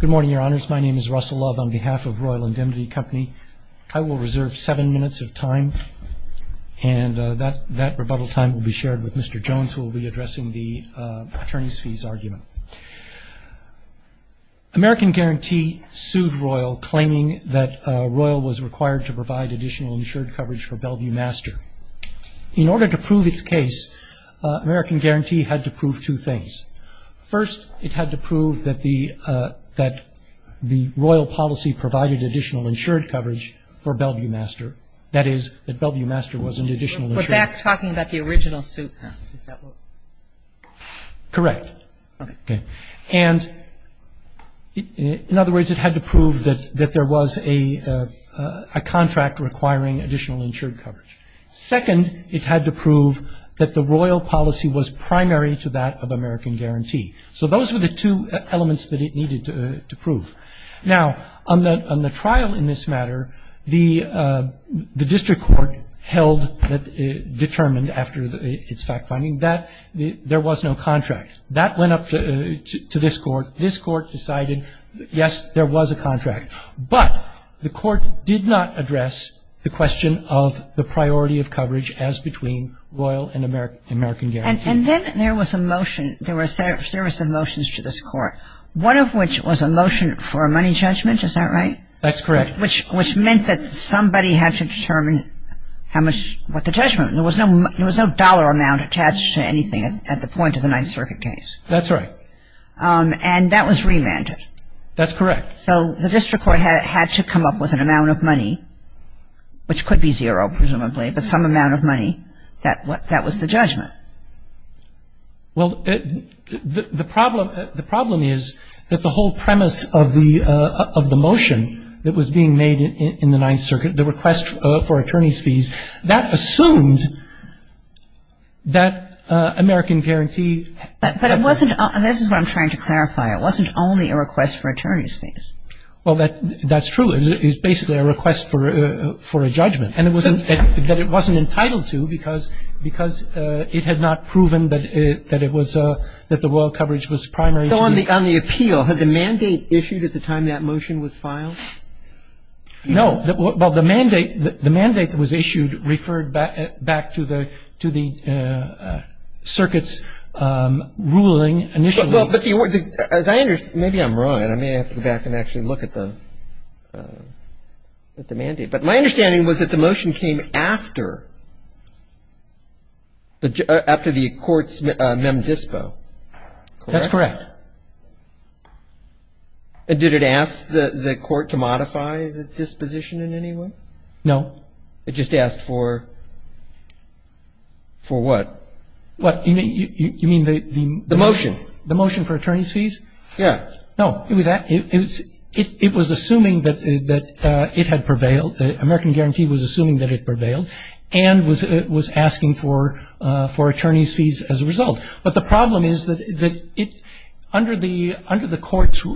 Good morning, your honors. My name is Russell Love on behalf of Royal Indemnity Company. I will reserve seven minutes of time and that rebuttal time will be shared with Mr. Jones who will be addressing the attorney's fees argument. American Guarantee sued Royal claiming that Royal was required to provide additional insured coverage for Bellevue Master. In order to prove its case, American Guarantee had to prove two things. First, it had to prove that the Royal policy provided additional insured coverage for Bellevue Master, that is, that Bellevue Master was an additional insured coverage. We're back talking about the original suit, huh? Correct. Okay. And in other words, it had to prove that there was a contract requiring additional insured coverage. Second, it had to prove that the Royal policy was primary to that of American Guarantee. So those were the two elements that it needed to prove. Now, on the trial in this matter, the district court held, determined after its fact-finding that there was no contract. That went up to this court. This court decided, yes, there was a contract, but the court did not address the question of the priority of coverage as between Royal and American Guarantee. And then there was a motion, there were a series of motions to this court, one of which was a motion for a money judgment, is that right? That's correct. Which meant that somebody had to determine how much, what the judgment was. There was no dollar amount attached to anything at the point of the Ninth Circuit case. That's right. And that was remanded. That's correct. So the district court had to come up with an amount of money, which could be zero, presumably, but some amount of money that was the judgment. Well, the problem is that the whole premise of the motion that was being made in the Ninth Circuit, the request for attorney's fees, that assumed that American Guarantee had to be paid. But it wasn't, this is what I'm trying to clarify. It wasn't only a request for attorney's fees. Well, that's true. It was basically a request for a judgment. And it wasn't, that it wasn't entitled to because it had not proven that it was, that the Royal coverage was primary to the So on the appeal, had the mandate issued at the time that motion was filed? No. Well, the mandate, the mandate that was issued referred back to the, to the circuit's ruling initially. Well, but the, as I understand, maybe I'm wrong, and I may have to go back and actually look at the mandate. But my understanding was that the motion came after, after the court's mem dispo. That's correct. Did it ask the court to modify the disposition in any way? No. It just asked for, for what? What, you mean, you mean the, the The motion. The motion for attorney's fees? Yeah. No, it was, it was, it was assuming that, that it had prevailed. American Guarantee was assuming that it prevailed and was, was asking for, for attorney's fees as a result. But the problem is that, that it, under the, under the court's,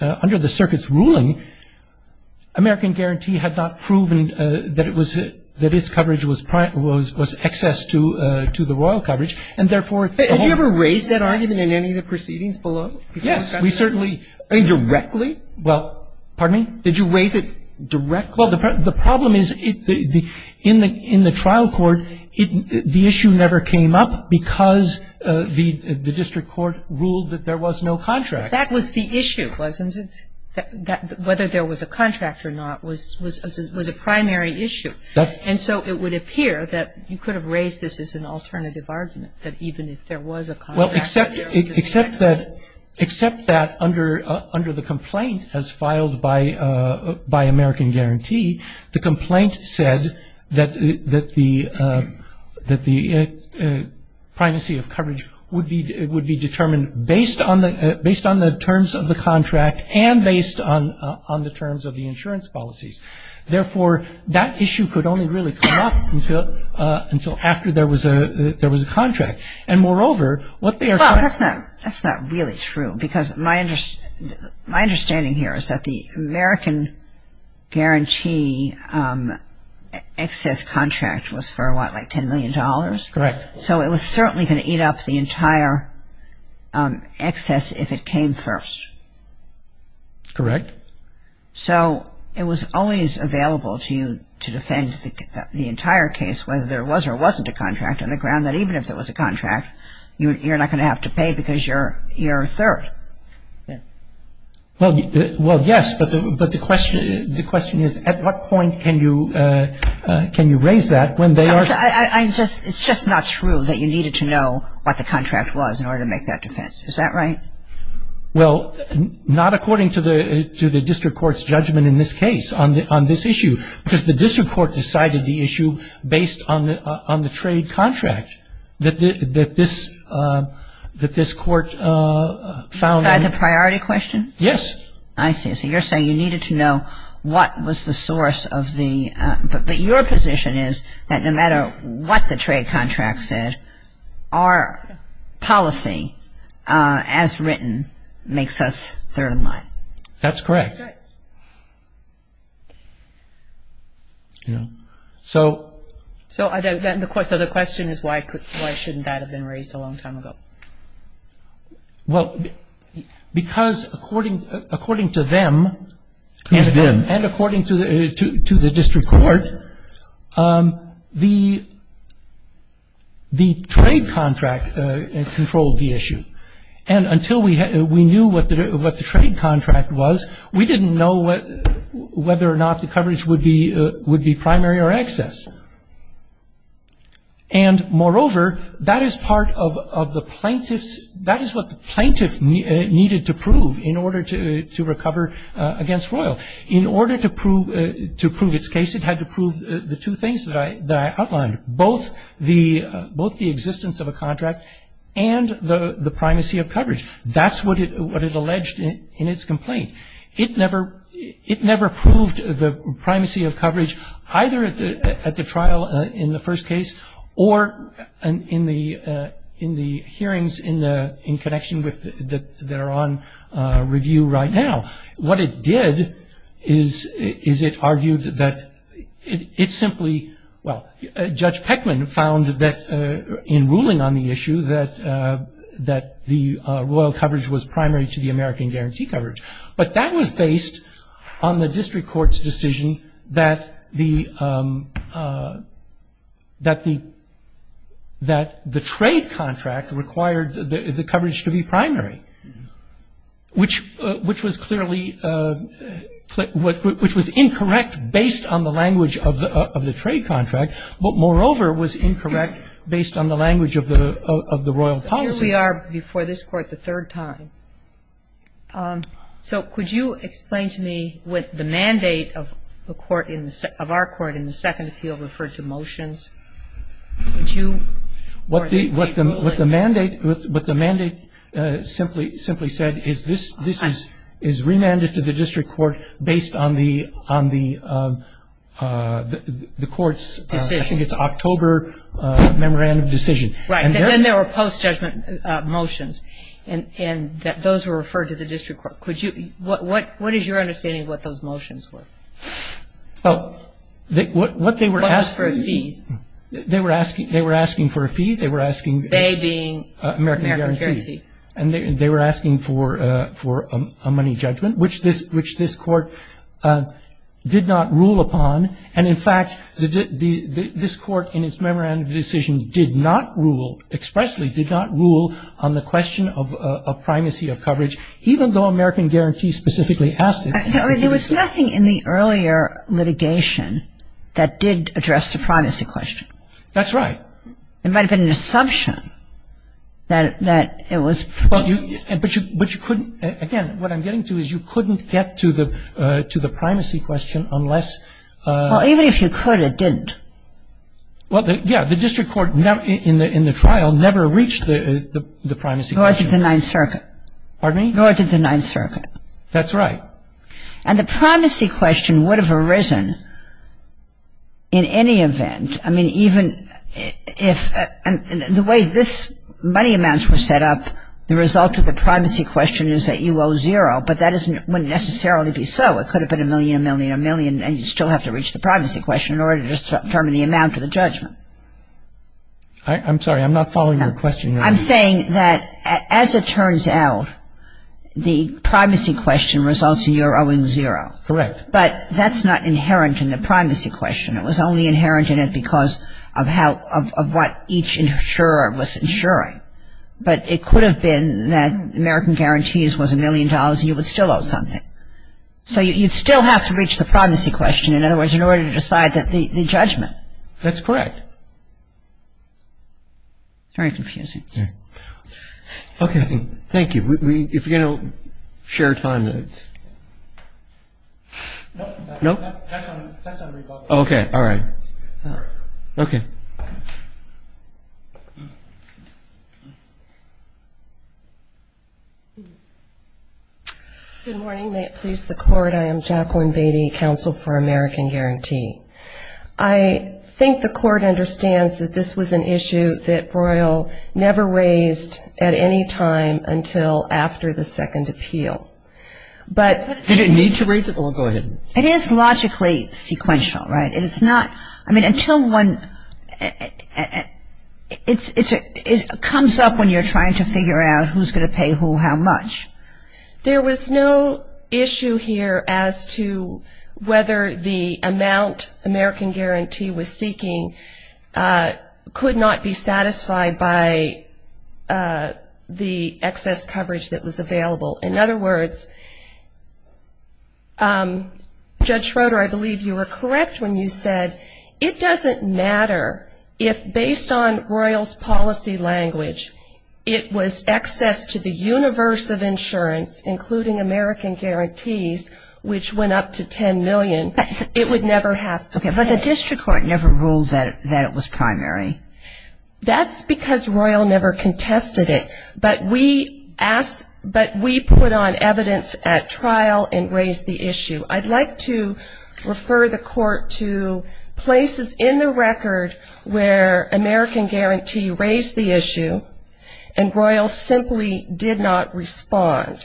under the circuit's ruling, American Guarantee had not proven that it was, that its coverage was, was, was excess to, to the Royal coverage. And therefore, Did you ever raise that argument in any of the proceedings below? Yes, we certainly I mean, directly? Well, pardon me? Did you raise it directly? Well, the, the problem is, in the, in the trial court, it, the issue never came up because the, the district court ruled that there was no contract. That was the issue, wasn't it? That, that, whether there was a contract or not was, was, was a primary issue. That And so it would appear that you could have raised this as an alternative argument, that even if there was a contract. Well, except, except that, except that under, under the complaint as filed by, by American Guarantee, the complaint said that, that the, that the privacy of coverage would be, it would be determined based on the, based on the terms of the contract and based on, on the terms of the insurance policies. Therefore, that issue could only really come up until, until after there was a, there was a contract. And moreover, what they are trying to Well, that's not, that's not really true. Because my, my understanding here is that the American Guarantee excess contract was for what, like $10 million? Correct. So it was certainly going to eat up the entire excess if it came first. Correct. So it was always available to you to defend the, the entire case, whether there was or wasn't a contract, on the ground that even if there was a contract, you, you're not going to have to pay because you're, you're third. Yeah. Well, well, yes. But the, but the question, the question is at what point can you, can you raise that when they are I, I, I just, it's just not true that you needed to know what the contract was in order to make that defense. Is that right? Well, not according to the, to the district court's judgment in this case on, on this issue. Because the district court decided the issue based on the, on the trade contract that, that this, that this court found. Is that a priority question? Yes. I see. So you're saying you needed to know what was the source of the, but, but your position is that no matter what the trade contract said, our policy as written makes us third in line. That's correct. Yeah. So. So, so the question is why, why shouldn't that have been raised a long time ago? Well, because according, according to them. Who's them? And according to the, to, to the district court, the, the trade contract controlled the issue. And until we, we knew what the, what the trade contract was, we didn't know whether or not the coverage would be, would be primary or excess. And moreover, that is part of, of the plaintiff's, that is what the plaintiff needed to prove in order to, to recover against Royal. In order to prove, to prove its case, it had to prove the two things that I, that I outlined. Both the, both the existence of a contract and the, the primacy of coverage. That's what it, what it alleged in, in its complaint. It never, it never proved the primacy of coverage either at the, at the trial in the first case or in the, in the hearings in the, in connection with the, that are on review right now. What it did is, is it argued that it, it simply, well, Judge Peckman found that in ruling on the issue that, that the Royal coverage was primary to the American guarantee coverage. But that was based on the district court's decision that the, that the, that the trade contract required the, the coverage to be primary. Which, which was clearly, which was incorrect based on the language of the, of the trade contract. Moreover, was incorrect based on the language of the, of the Royal policy. So here we are before this Court the third time. So could you explain to me what the mandate of the Court in the, of our Court in the second appeal referred to motions? Would you? What the, what the, what the mandate, what the mandate simply, simply said is this, this is, is remanded to the district court based on the, on the, the Court's. Decision. I think it's October memorandum decision. Right. And then there were post-judgment motions. And, and those were referred to the district court. Could you, what, what, what is your understanding of what those motions were? Well, what, what they were asking. What was for a fee? They were asking, they were asking for a fee. They were asking. They being. American guarantee. American guarantee. And they, they were asking for, for a money judgment. Which this, which this Court did not rule upon. And in fact, the, the, this Court in its memorandum decision did not rule, expressly did not rule on the question of, of primacy of coverage. Even though American guarantee specifically asked it. I mean, there was nothing in the earlier litigation that did address the primacy question. That's right. There might have been an assumption that, that it was. Well, you, but you, but you couldn't, again, what I'm getting to is you couldn't get to the, to the primacy question unless. Well, even if you could, it didn't. Well, yeah, the district court in the, in the trial never reached the, the primacy question. Nor did the Ninth Circuit. Pardon me? Nor did the Ninth Circuit. That's right. And the primacy question would have arisen in any event. I mean, even if, and the way this money amounts were set up, the result of the primacy question is that you owe zero. But that isn't, wouldn't necessarily be so. It could have been a million, a million, a million, and you still have to reach the primacy question in order to determine the amount of the judgment. I'm sorry, I'm not following your question. I'm saying that as it turns out, the primacy question results in your owing zero. Correct. But that's not inherent in the primacy question. It was only inherent in it because of how, of what each insurer was insuring. But it could have been that American Guarantees was a million dollars and you would still owe something. So you'd still have to reach the primacy question. In other words, in order to decide the judgment. That's correct. Very confusing. Okay. Thank you. If you're going to share time, then it's. No? That's on recall. Okay. All right. Okay. Thank you. Good morning. May it please the Court. I am Jacqueline Beatty, counsel for American Guarantee. I think the Court understands that this was an issue that Broyle never raised at any time until after the second appeal. But. Did it need to raise it? Oh, go ahead. It is logically sequential, right? It is not. I mean, until one. It comes up when you're trying to figure out who's going to pay who how much. There was no issue here as to whether the amount American Guarantee was seeking could not be satisfied by the excess coverage that was available. In other words, Judge Schroeder, I believe you were correct when you said it doesn't matter if, based on Broyle's policy language, it was excess to the universe of insurance, including American Guarantees, which went up to $10 million. It would never have to pay. Okay. But the district court never ruled that it was primary. That's because Broyle never contested it. But we put on evidence at trial and raised the issue. I'd like to refer the Court to places in the record where American Guarantee raised the issue and Broyle simply did not respond.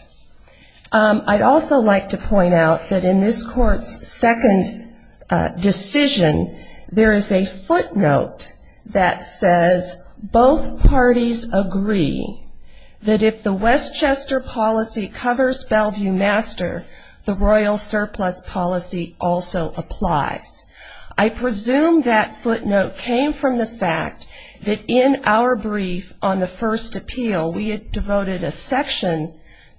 I'd also like to point out that in this Court's second decision, there is a footnote that says, both parties agree that if the Westchester policy covers Bellevue Master, the Broyle surplus policy also applies. I presume that footnote came from the fact that in our brief on the first appeal, we had devoted a section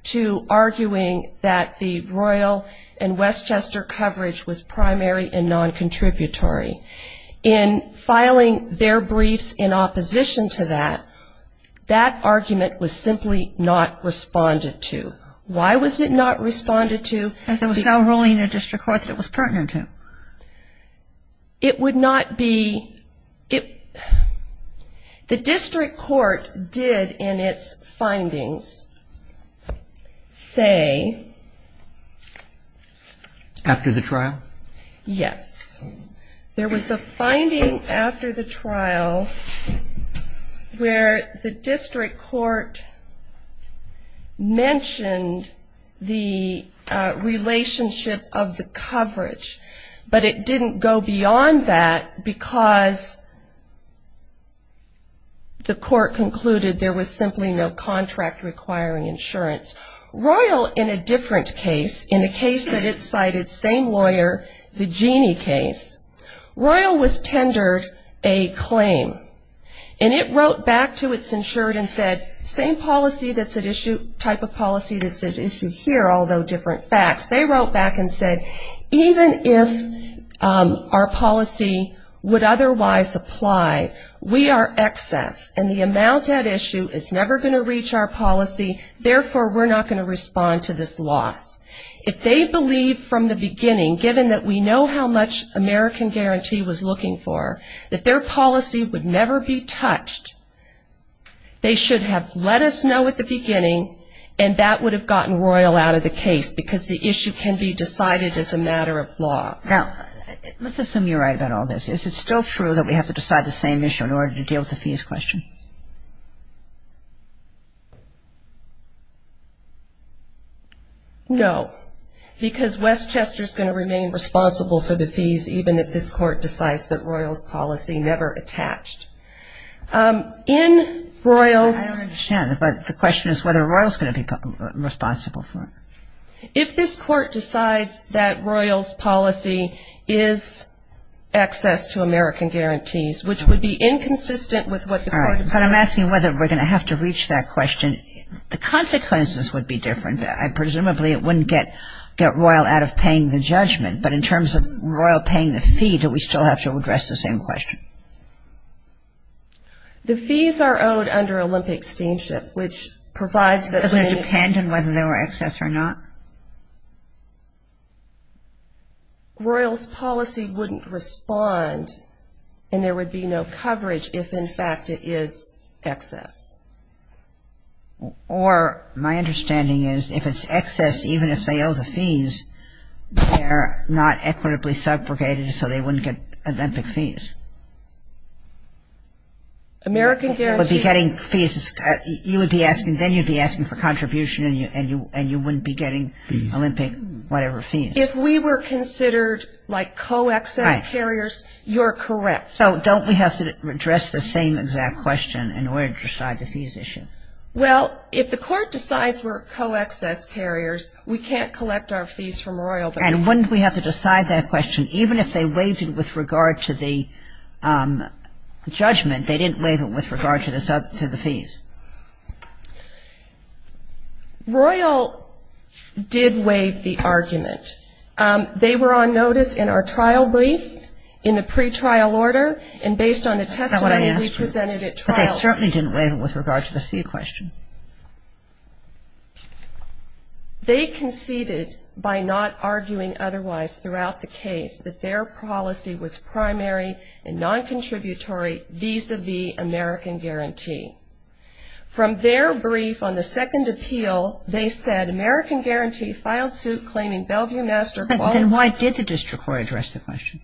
to arguing that the Broyle and Westchester coverage was primary and non-contributory. In filing their briefs in opposition to that, that argument was simply not responded to. Why was it not responded to? Because there was no ruling in the district court that it was pertinent to. It would not be the district court did in its findings say... After the trial? Yes. There was a finding after the trial where the district court mentioned the relationship of the coverage. But it didn't go beyond that because the court concluded there was simply no contract requiring insurance. Broyle, in a different case, in a case that it cited, same lawyer, the Jeanne case, Broyle was tendered a claim. And it wrote back to its insured and said, same policy that's at issue, type of policy that's at issue here, although different facts. They wrote back and said, even if our policy would otherwise apply, we are excess and the amount at issue is never going to reach our policy, therefore we're not going to respond to this loss. If they believed from the beginning, given that we know how much American Guarantee was looking for, that their policy would never be touched, they should have let us know at the beginning and that would have gotten Broyle out of the case because the issue can be decided as a matter of law. Now, let's assume you're right about all this. Is it still true that we have to decide the same issue in order to deal with the fees question? No, because Westchester is going to remain responsible for the fees, even if this court decides that Broyle's policy never attached. In Broyle's... I don't understand, but the question is whether Broyle's going to be responsible for it. If this court decides that Broyle's policy is access to American Guarantees, which would be inconsistent with what the court... All right, but I'm asking whether we're going to have to reach that question. The consequences would be different. Presumably it wouldn't get Broyle out of paying the judgment, but in terms of Broyle paying the fee, do we still have to address the same question? The fees are owed under Olympic Steamship, which provides that... Does it depend on whether they were excess or not? Broyle's policy wouldn't respond, and there would be no coverage if, in fact, it is excess. Or my understanding is if it's excess, even if they owe the fees, they're not equitably subrogated so they wouldn't get Olympic fees. American Guarantees... You would be getting fees, you would be asking, then you'd be asking for contribution and you wouldn't be getting Olympic whatever fees. If we were considered like co-excess carriers, you're correct. So don't we have to address the same exact question in order to decide the fees issue? Well, if the court decides we're co-excess carriers, we can't collect our fees from Broyle. And wouldn't we have to decide that question even if they waived it with regard to the judgment? They didn't waive it with regard to the fees. Broyle did waive the argument. They were on notice in our trial brief, in the pretrial order, and based on the testimony we presented at trial. But they certainly didn't waive it with regard to the fee question. They conceded by not arguing otherwise throughout the case that their policy was primary and non-contributory vis-à-vis American Guarantee. From their brief on the second appeal, they said American Guarantee filed suit claiming Bellevue Master... But then why did the district court address the question?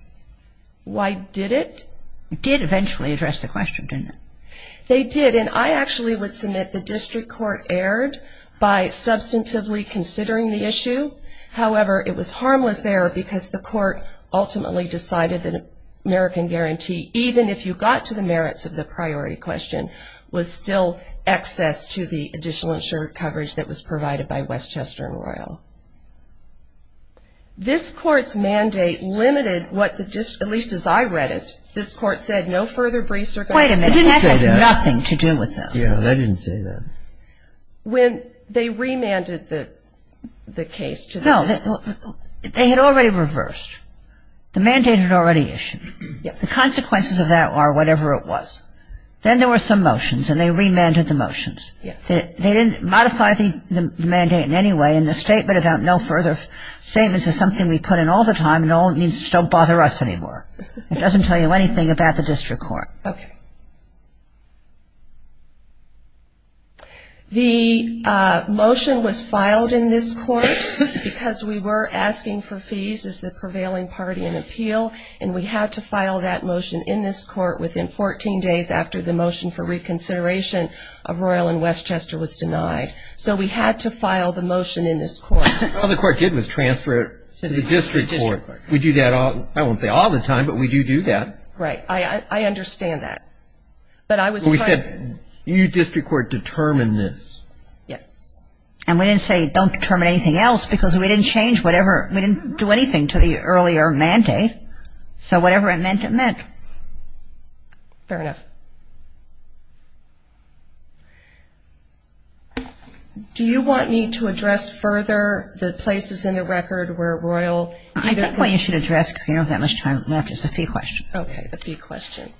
Why did it? It did eventually address the question, didn't it? They did, and I actually would submit the district court erred by substantively considering the issue. However, it was harmless error because the court ultimately decided that American Guarantee, even if you got to the merits of the priority question, was still excess to the additional insured coverage that was provided by Westchester and Broyle. This Court's mandate limited what the district, at least as I read it, this Court said no further briefs are... Wait a minute. It didn't say that. That has nothing to do with this. Yeah, they didn't say that. When they remanded the case to the district court... No, they had already reversed. The mandate had already issued. Yes. The consequences of that are whatever it was. Then there were some motions, and they remanded the motions. Yes. They didn't modify the mandate in any way, and the statement about no further statements is something we put in all the time, and all it means is don't bother us anymore. It doesn't tell you anything about the district court. Okay. The motion was filed in this Court because we were asking for fees as the prevailing party in appeal, and we had to file that motion in this Court within 14 days after the motion for reconsideration of Royal and Westchester was denied. So we had to file the motion in this Court. All the Court did was transfer it to the district court. We do that, I won't say all the time, but we do do that. Right. I understand that. But I was trying to... We said you district court determine this. Yes. And we didn't say don't determine anything else because we didn't change whatever, we didn't do anything to the earlier mandate, so whatever it meant, it meant. Fair enough. Do you want me to address further the places in the record where Royal... I think what you should address, because we don't have that much time left, is the fee question. Okay, the fee question.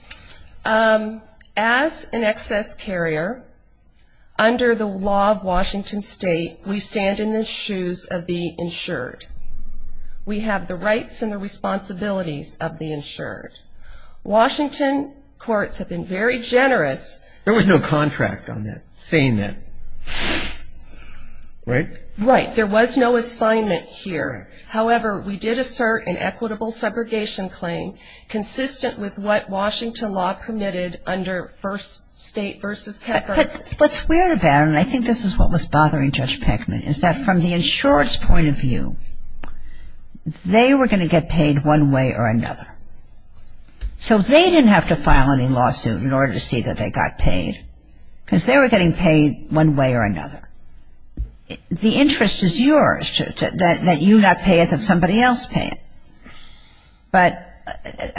As an excess carrier, under the law of Washington State, we stand in the shoes of the insured. We have the rights and the responsibilities of the insured. Washington courts have been very generous. There was no contract on that, saying that, right? Right. There was no assignment here. However, we did assert an equitable segregation claim, consistent with what Washington law permitted under First State v. Peckman. But what's weird about it, and I think this is what was bothering Judge Peckman, is that from the insured's point of view, they were going to get paid one way or another. So they didn't have to file any lawsuit in order to see that they got paid, because they were getting paid one way or another. The interest is yours, that you not pay it, that somebody else pay it. But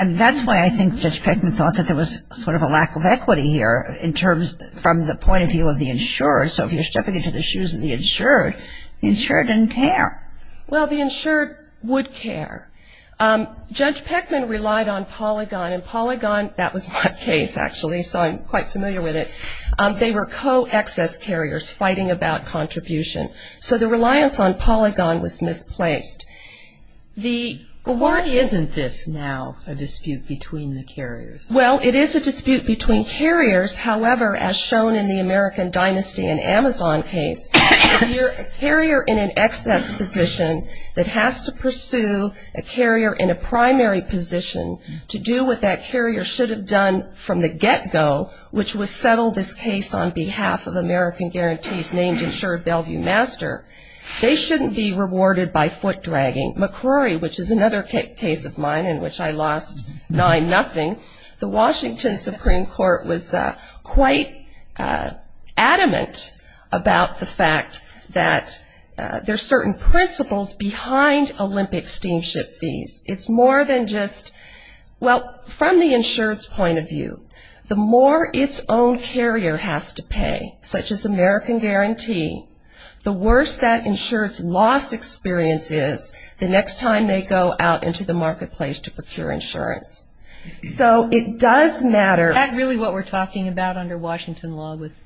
that's why I think Judge Peckman thought that there was sort of a lack of equity here in terms from the point of view of the insured. So if you're stepping into the shoes of the insured, the insured didn't care. Well, the insured would care. Judge Peckman relied on Polygon, and Polygon, that was my case, actually, so I'm quite familiar with it. They were co-excess carriers fighting about contribution. So the reliance on Polygon was misplaced. But why isn't this now a dispute between the carriers? Well, it is a dispute between carriers. However, as shown in the American Dynasty and Amazon case, if you're a carrier in an excess position that has to pursue a carrier in a primary position to do what that carrier should have done from the get-go, which was settle this case on behalf of American guarantees named insured Bellevue Master, they shouldn't be rewarded by foot-dragging. McCrory, which is another case of mine in which I lost 9-0, the Washington Supreme Court was quite adamant about the fact that there are certain principles behind Olympic steamship fees. It's more than just, well, from the insured's point of view, the more its own carrier has to pay, such as American guarantee, the worse that insured's loss experience is the next time they go out into the marketplace to procure insurance. So it does matter. Is that really what we're talking about under Washington law with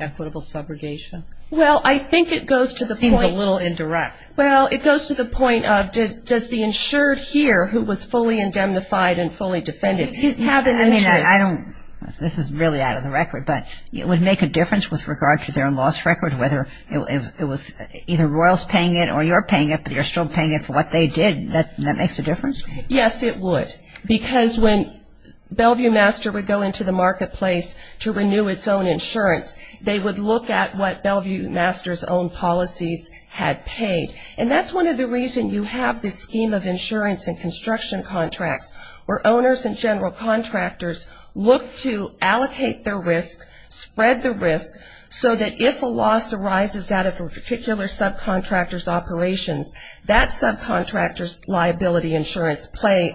equitable subrogation? Well, I think it goes to the point. It seems a little indirect. Well, it goes to the point of does the insured here who was fully indemnified and fully defended have an interest? I mean, I don't, this is really out of the record, but it would make a difference with regard to their own loss record, whether it was either Royals paying it or you're paying it, but you're still paying it for what they did. That makes a difference? Yes, it would. Because when Bellevue Master would go into the marketplace to renew its own insurance, they would look at what Bellevue Master's own policies had paid. And that's one of the reasons you have this scheme of insurance and construction contracts, where owners and general contractors look to allocate their risk, spread the risk, so that if a loss arises out of a particular subcontractor's operations, that subcontractor's liability insurance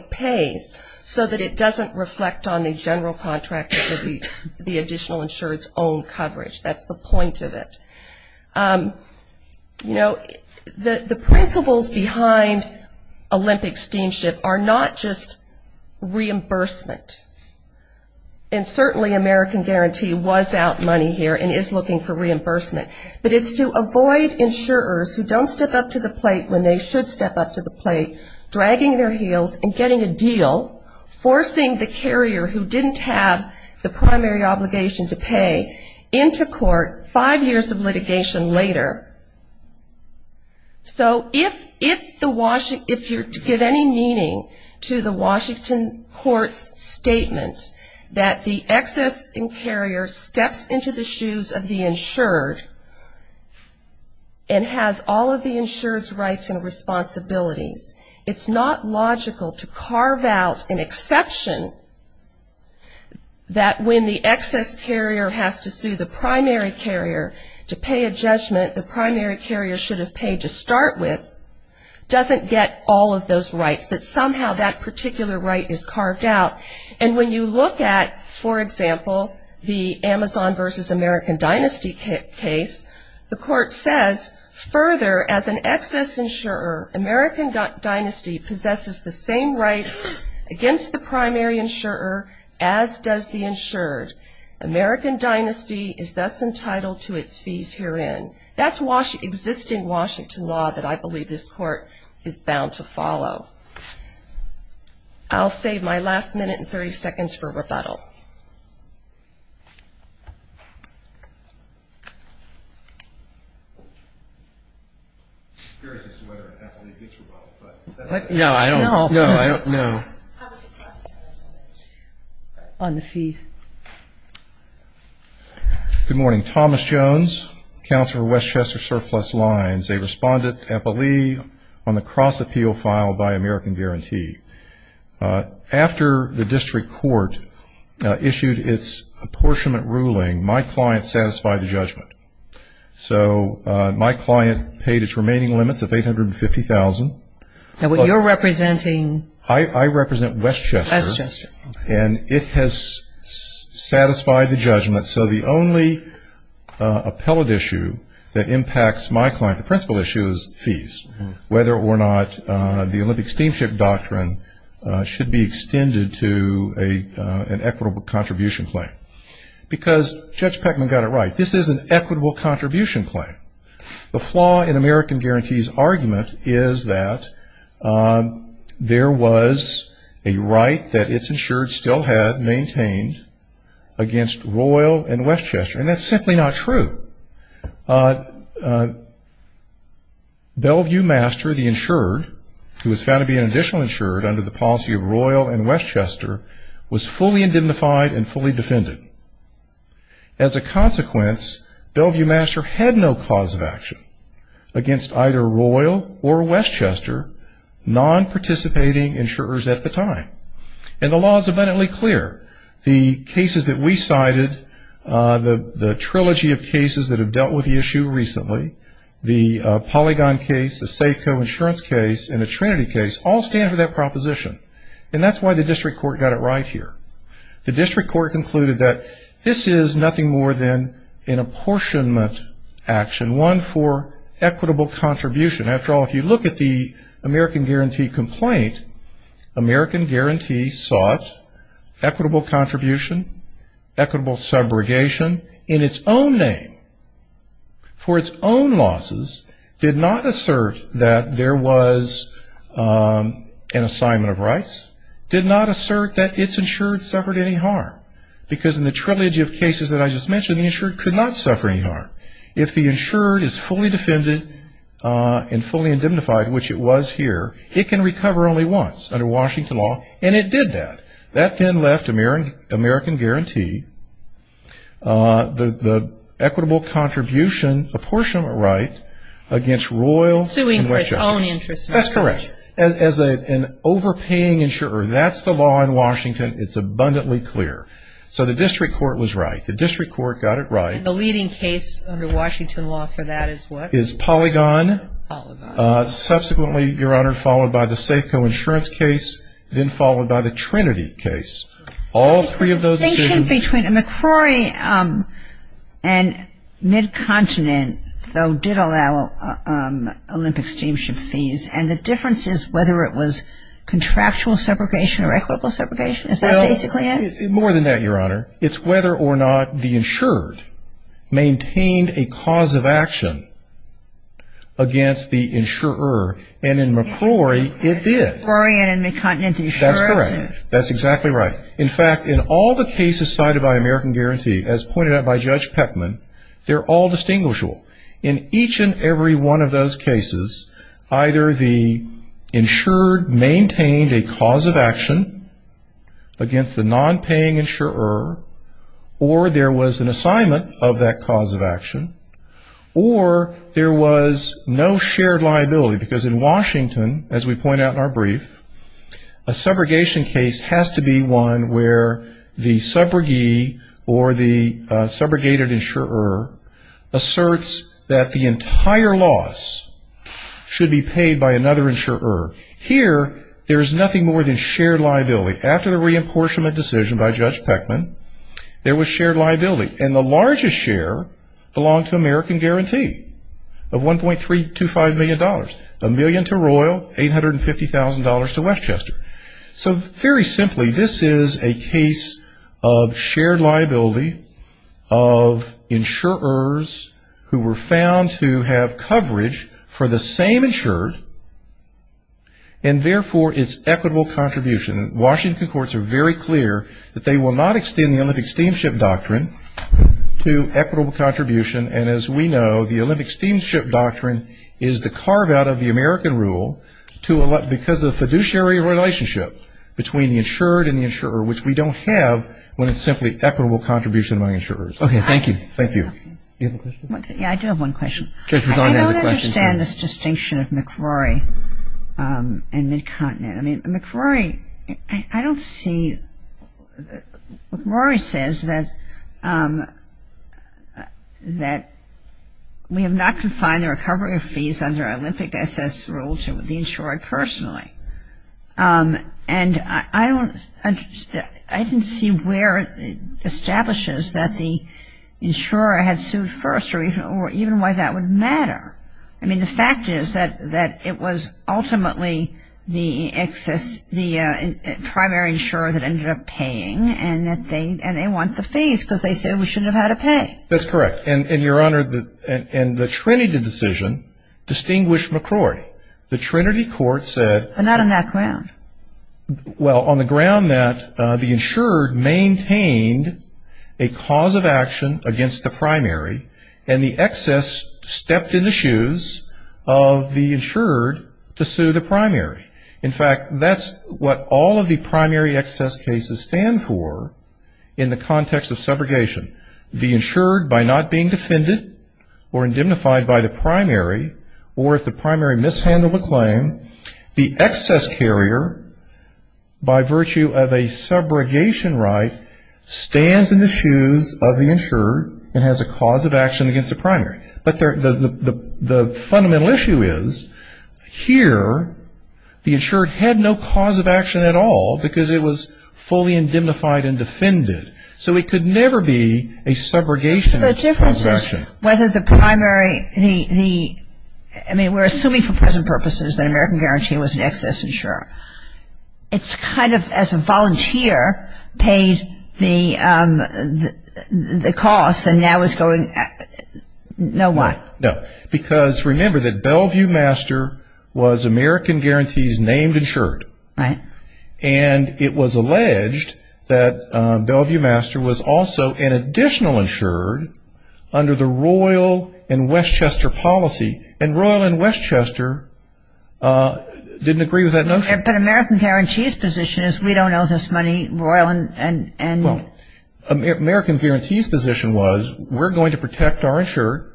pays so that it doesn't reflect on the general contractor's or the additional insurer's own coverage. That's the point of it. You know, the principles behind Olympic Steamship are not just reimbursement, and certainly American Guarantee was out money here and is looking for reimbursement, but it's to avoid insurers who don't step up to the plate when they should step up to the plate, dragging their heels and getting a deal, forcing the carrier who didn't have the primary obligation to pay, into court five years of litigation later. So if you're to give any meaning to the Washington court's statement that the excess carrier steps into the shoes of the insured and has all of the insured's rights and responsibilities, it's not logical to carve out an exception that when the excess carrier has to sue the primary carrier to pay a judgment, the primary carrier should have paid to start with, doesn't get all of those rights, that somehow that particular right is carved out. And when you look at, for example, the Amazon versus American Dynasty case, the court says, further, as an excess insurer, American Dynasty possesses the same rights against the primary insurer as does the insured. American Dynasty is thus entitled to its fees herein. That's existing Washington law that I believe this court is bound to follow. I'll save my last minute and 30 seconds for rebuttal. I'm curious as to whether Apolli gets rebuttal, but that's it. No, I don't know. On the fees. Good morning. Thomas Jones, Counselor for Westchester Surplus Lines, a respondent to Apolli on the cross-appeal filed by American Guarantee. After the district court issued its apportionment ruling, my client satisfied the judgment. So my client paid its remaining limits of $850,000. And what you're representing? I represent Westchester. Westchester. And it has satisfied the judgment, so the only appellate issue that impacts my client, the principal issue, is fees, whether or not the Olympic Steamship Doctrine should be extended to an equitable contribution claim. Because Judge Peckman got it right. This is an equitable contribution claim. The flaw in American Guarantee's argument is that there was a right that its insured still had maintained against Royal and Westchester, and that's simply not true. Bellevue Master, the insured, who was found to be an additional insured under the policy of Royal and Westchester, was fully indemnified and fully defended. As a consequence, Bellevue Master had no cause of action against either Royal or Westchester non-participating insurers at the time. And the law is abundantly clear. The cases that we cited, the trilogy of cases that have dealt with the issue recently, the Polygon case, the SACO insurance case, and the Trinity case, all stand for that proposition. And that's why the district court got it right here. The district court concluded that this is nothing more than an apportionment action, one for equitable contribution. After all, if you look at the American Guarantee complaint, American Guarantee sought equitable contribution, equitable subrogation in its own name, for its own losses, did not assert that there was an assignment of rights, did not assert that its insured suffered any harm, because in the trilogy of cases that I just mentioned, the insured could not suffer any harm. If the insured is fully defended and fully indemnified, which it was here, it can recover only once under Washington law, and it did that. That then left American Guarantee the equitable contribution, apportionment right against Royal and Westchester. Suing for its own interest. That's correct. As an overpaying insurer, that's the law in Washington. It's abundantly clear. So the district court was right. The district court got it right. And the leading case under Washington law for that is what? Is Polygon. Subsequently, Your Honor, followed by the SACO insurance case, then followed by the Trinity case. All three of those decisions. The distinction between McCrory and Mid-Continent, though, did allow Olympic steamship fees. And the difference is whether it was contractual subrogation or equitable subrogation. Is that basically it? More than that, Your Honor. It's whether or not the insured maintained a cause of action against the insurer. And in McCrory, it did. McCrory and Mid-Continent insurance. That's correct. That's exactly right. In fact, in all the cases cited by American Guarantee, as pointed out by Judge Peckman, they're all distinguishable. In each and every one of those cases, either the insured maintained a cause of action against the nonpaying insurer, or there was an assignment of that cause of action, or there was no shared liability, because in Washington, as we point out in our brief, a subrogation case has to be one where the subrogee or the subrogated insurer asserts that the entire loss should be paid by another insurer. Here, there is nothing more than shared liability. After the reimportionment decision by Judge Peckman, there was shared liability. And the largest share belonged to American Guarantee of $1.325 million. A million to Royal, $850,000 to Westchester. So very simply, this is a case of shared liability of insurers who were found to have coverage for the same insured, and therefore, its equitable contribution. And Washington courts are very clear that they will not extend the Olympic Steamship Doctrine to equitable contribution. And as we know, the Olympic Steamship Doctrine is the carve-out of the American rule because of the fiduciary relationship between the insured and the insurer, which we don't have when it's simply equitable contribution among insurers. Okay, thank you. Thank you. Do you have a question? Yeah, I do have one question. I don't understand this distinction of McRory and Midcontinent. I mean, McRory, I don't see, McRory says that we have not confined the recovery of fees under Olympic SS rules to the insured personally. And I don't, I didn't see where it establishes that the insurer had sued first or even why that would matter. I mean, the fact is that it was ultimately the excess, the primary insurer that ended up paying and they want the fees because they said we shouldn't have had to pay. That's correct. And, Your Honor, and the Trinity decision distinguished McRory. The Trinity court said. But not on that ground. Well, on the ground that the insured maintained a cause of action against the primary and the excess stepped in the shoes of the insured to sue the primary. In fact, that's what all of the primary excess cases stand for in the context of subrogation. The insured, by not being defended or indemnified by the primary or if the primary mishandled a claim, the excess carrier, by virtue of a subrogation right, stands in the shoes of the insured and has a cause of action against the primary. But the fundamental issue is here the insured had no cause of action at all because it was fully indemnified and defended. So it could never be a subrogation of the cause of action. But the difference is whether the primary, the, I mean, we're assuming for present purposes that American Guarantee was an excess insurer. It's kind of as a volunteer paid the cost and now is going, you know what. No. Because remember that Bellevue Master was American Guarantee's named insured. Right. And it was alleged that Bellevue Master was also an additional insured under the Royal and Westchester policy. And Royal and Westchester didn't agree with that notion. But American Guarantee's position is we don't owe this money, Royal and. Well, American Guarantee's position was we're going to protect our insured,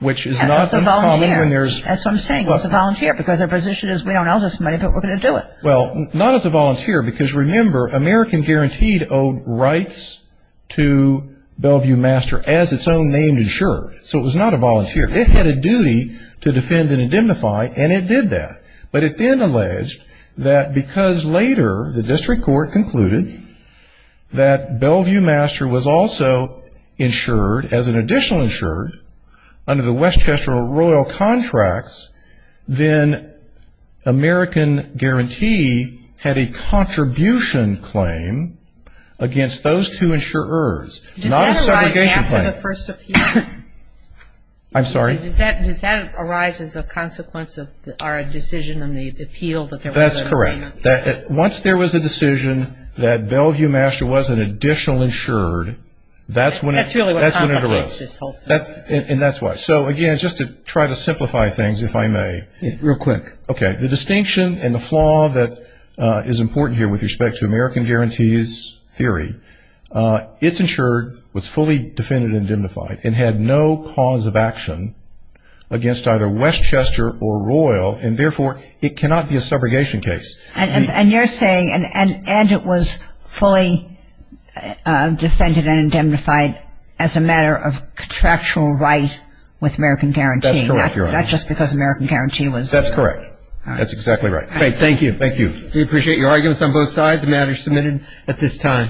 which is not uncommon. That's what I'm saying. It's a volunteer because their position is we don't owe this money, but we're going to do it. Well, not as a volunteer because, remember, American Guarantee owed rights to Bellevue Master as its own named insured. So it was not a volunteer. It had a duty to defend and indemnify, and it did that. But it then alleged that because later the district court concluded that Bellevue Master was also insured as an additional insured under the Westchester and Royal contracts, then American Guarantee had a contribution claim against those two insurers. Not a segregation claim. Did that arise after the first appeal? I'm sorry? Does that arise as a consequence of our decision on the appeal? That's correct. Once there was a decision that Bellevue Master was an additional insured, that's when it arose. And that's why. So, again, just to try to simplify things, if I may, real quick. Okay. The distinction and the flaw that is important here with respect to American Guarantee's theory, it's insured, was fully defended and indemnified, and had no cause of action against either Westchester or Royal, and therefore it cannot be a subrogation case. And you're saying, and it was fully defended and indemnified as a matter of contractual right with American Guarantee. That's correct, Your Honor. Not just because American Guarantee was. That's correct. That's exactly right. Thank you. Thank you. We appreciate your arguments on both sides. And we'll have the matter submitted at this time.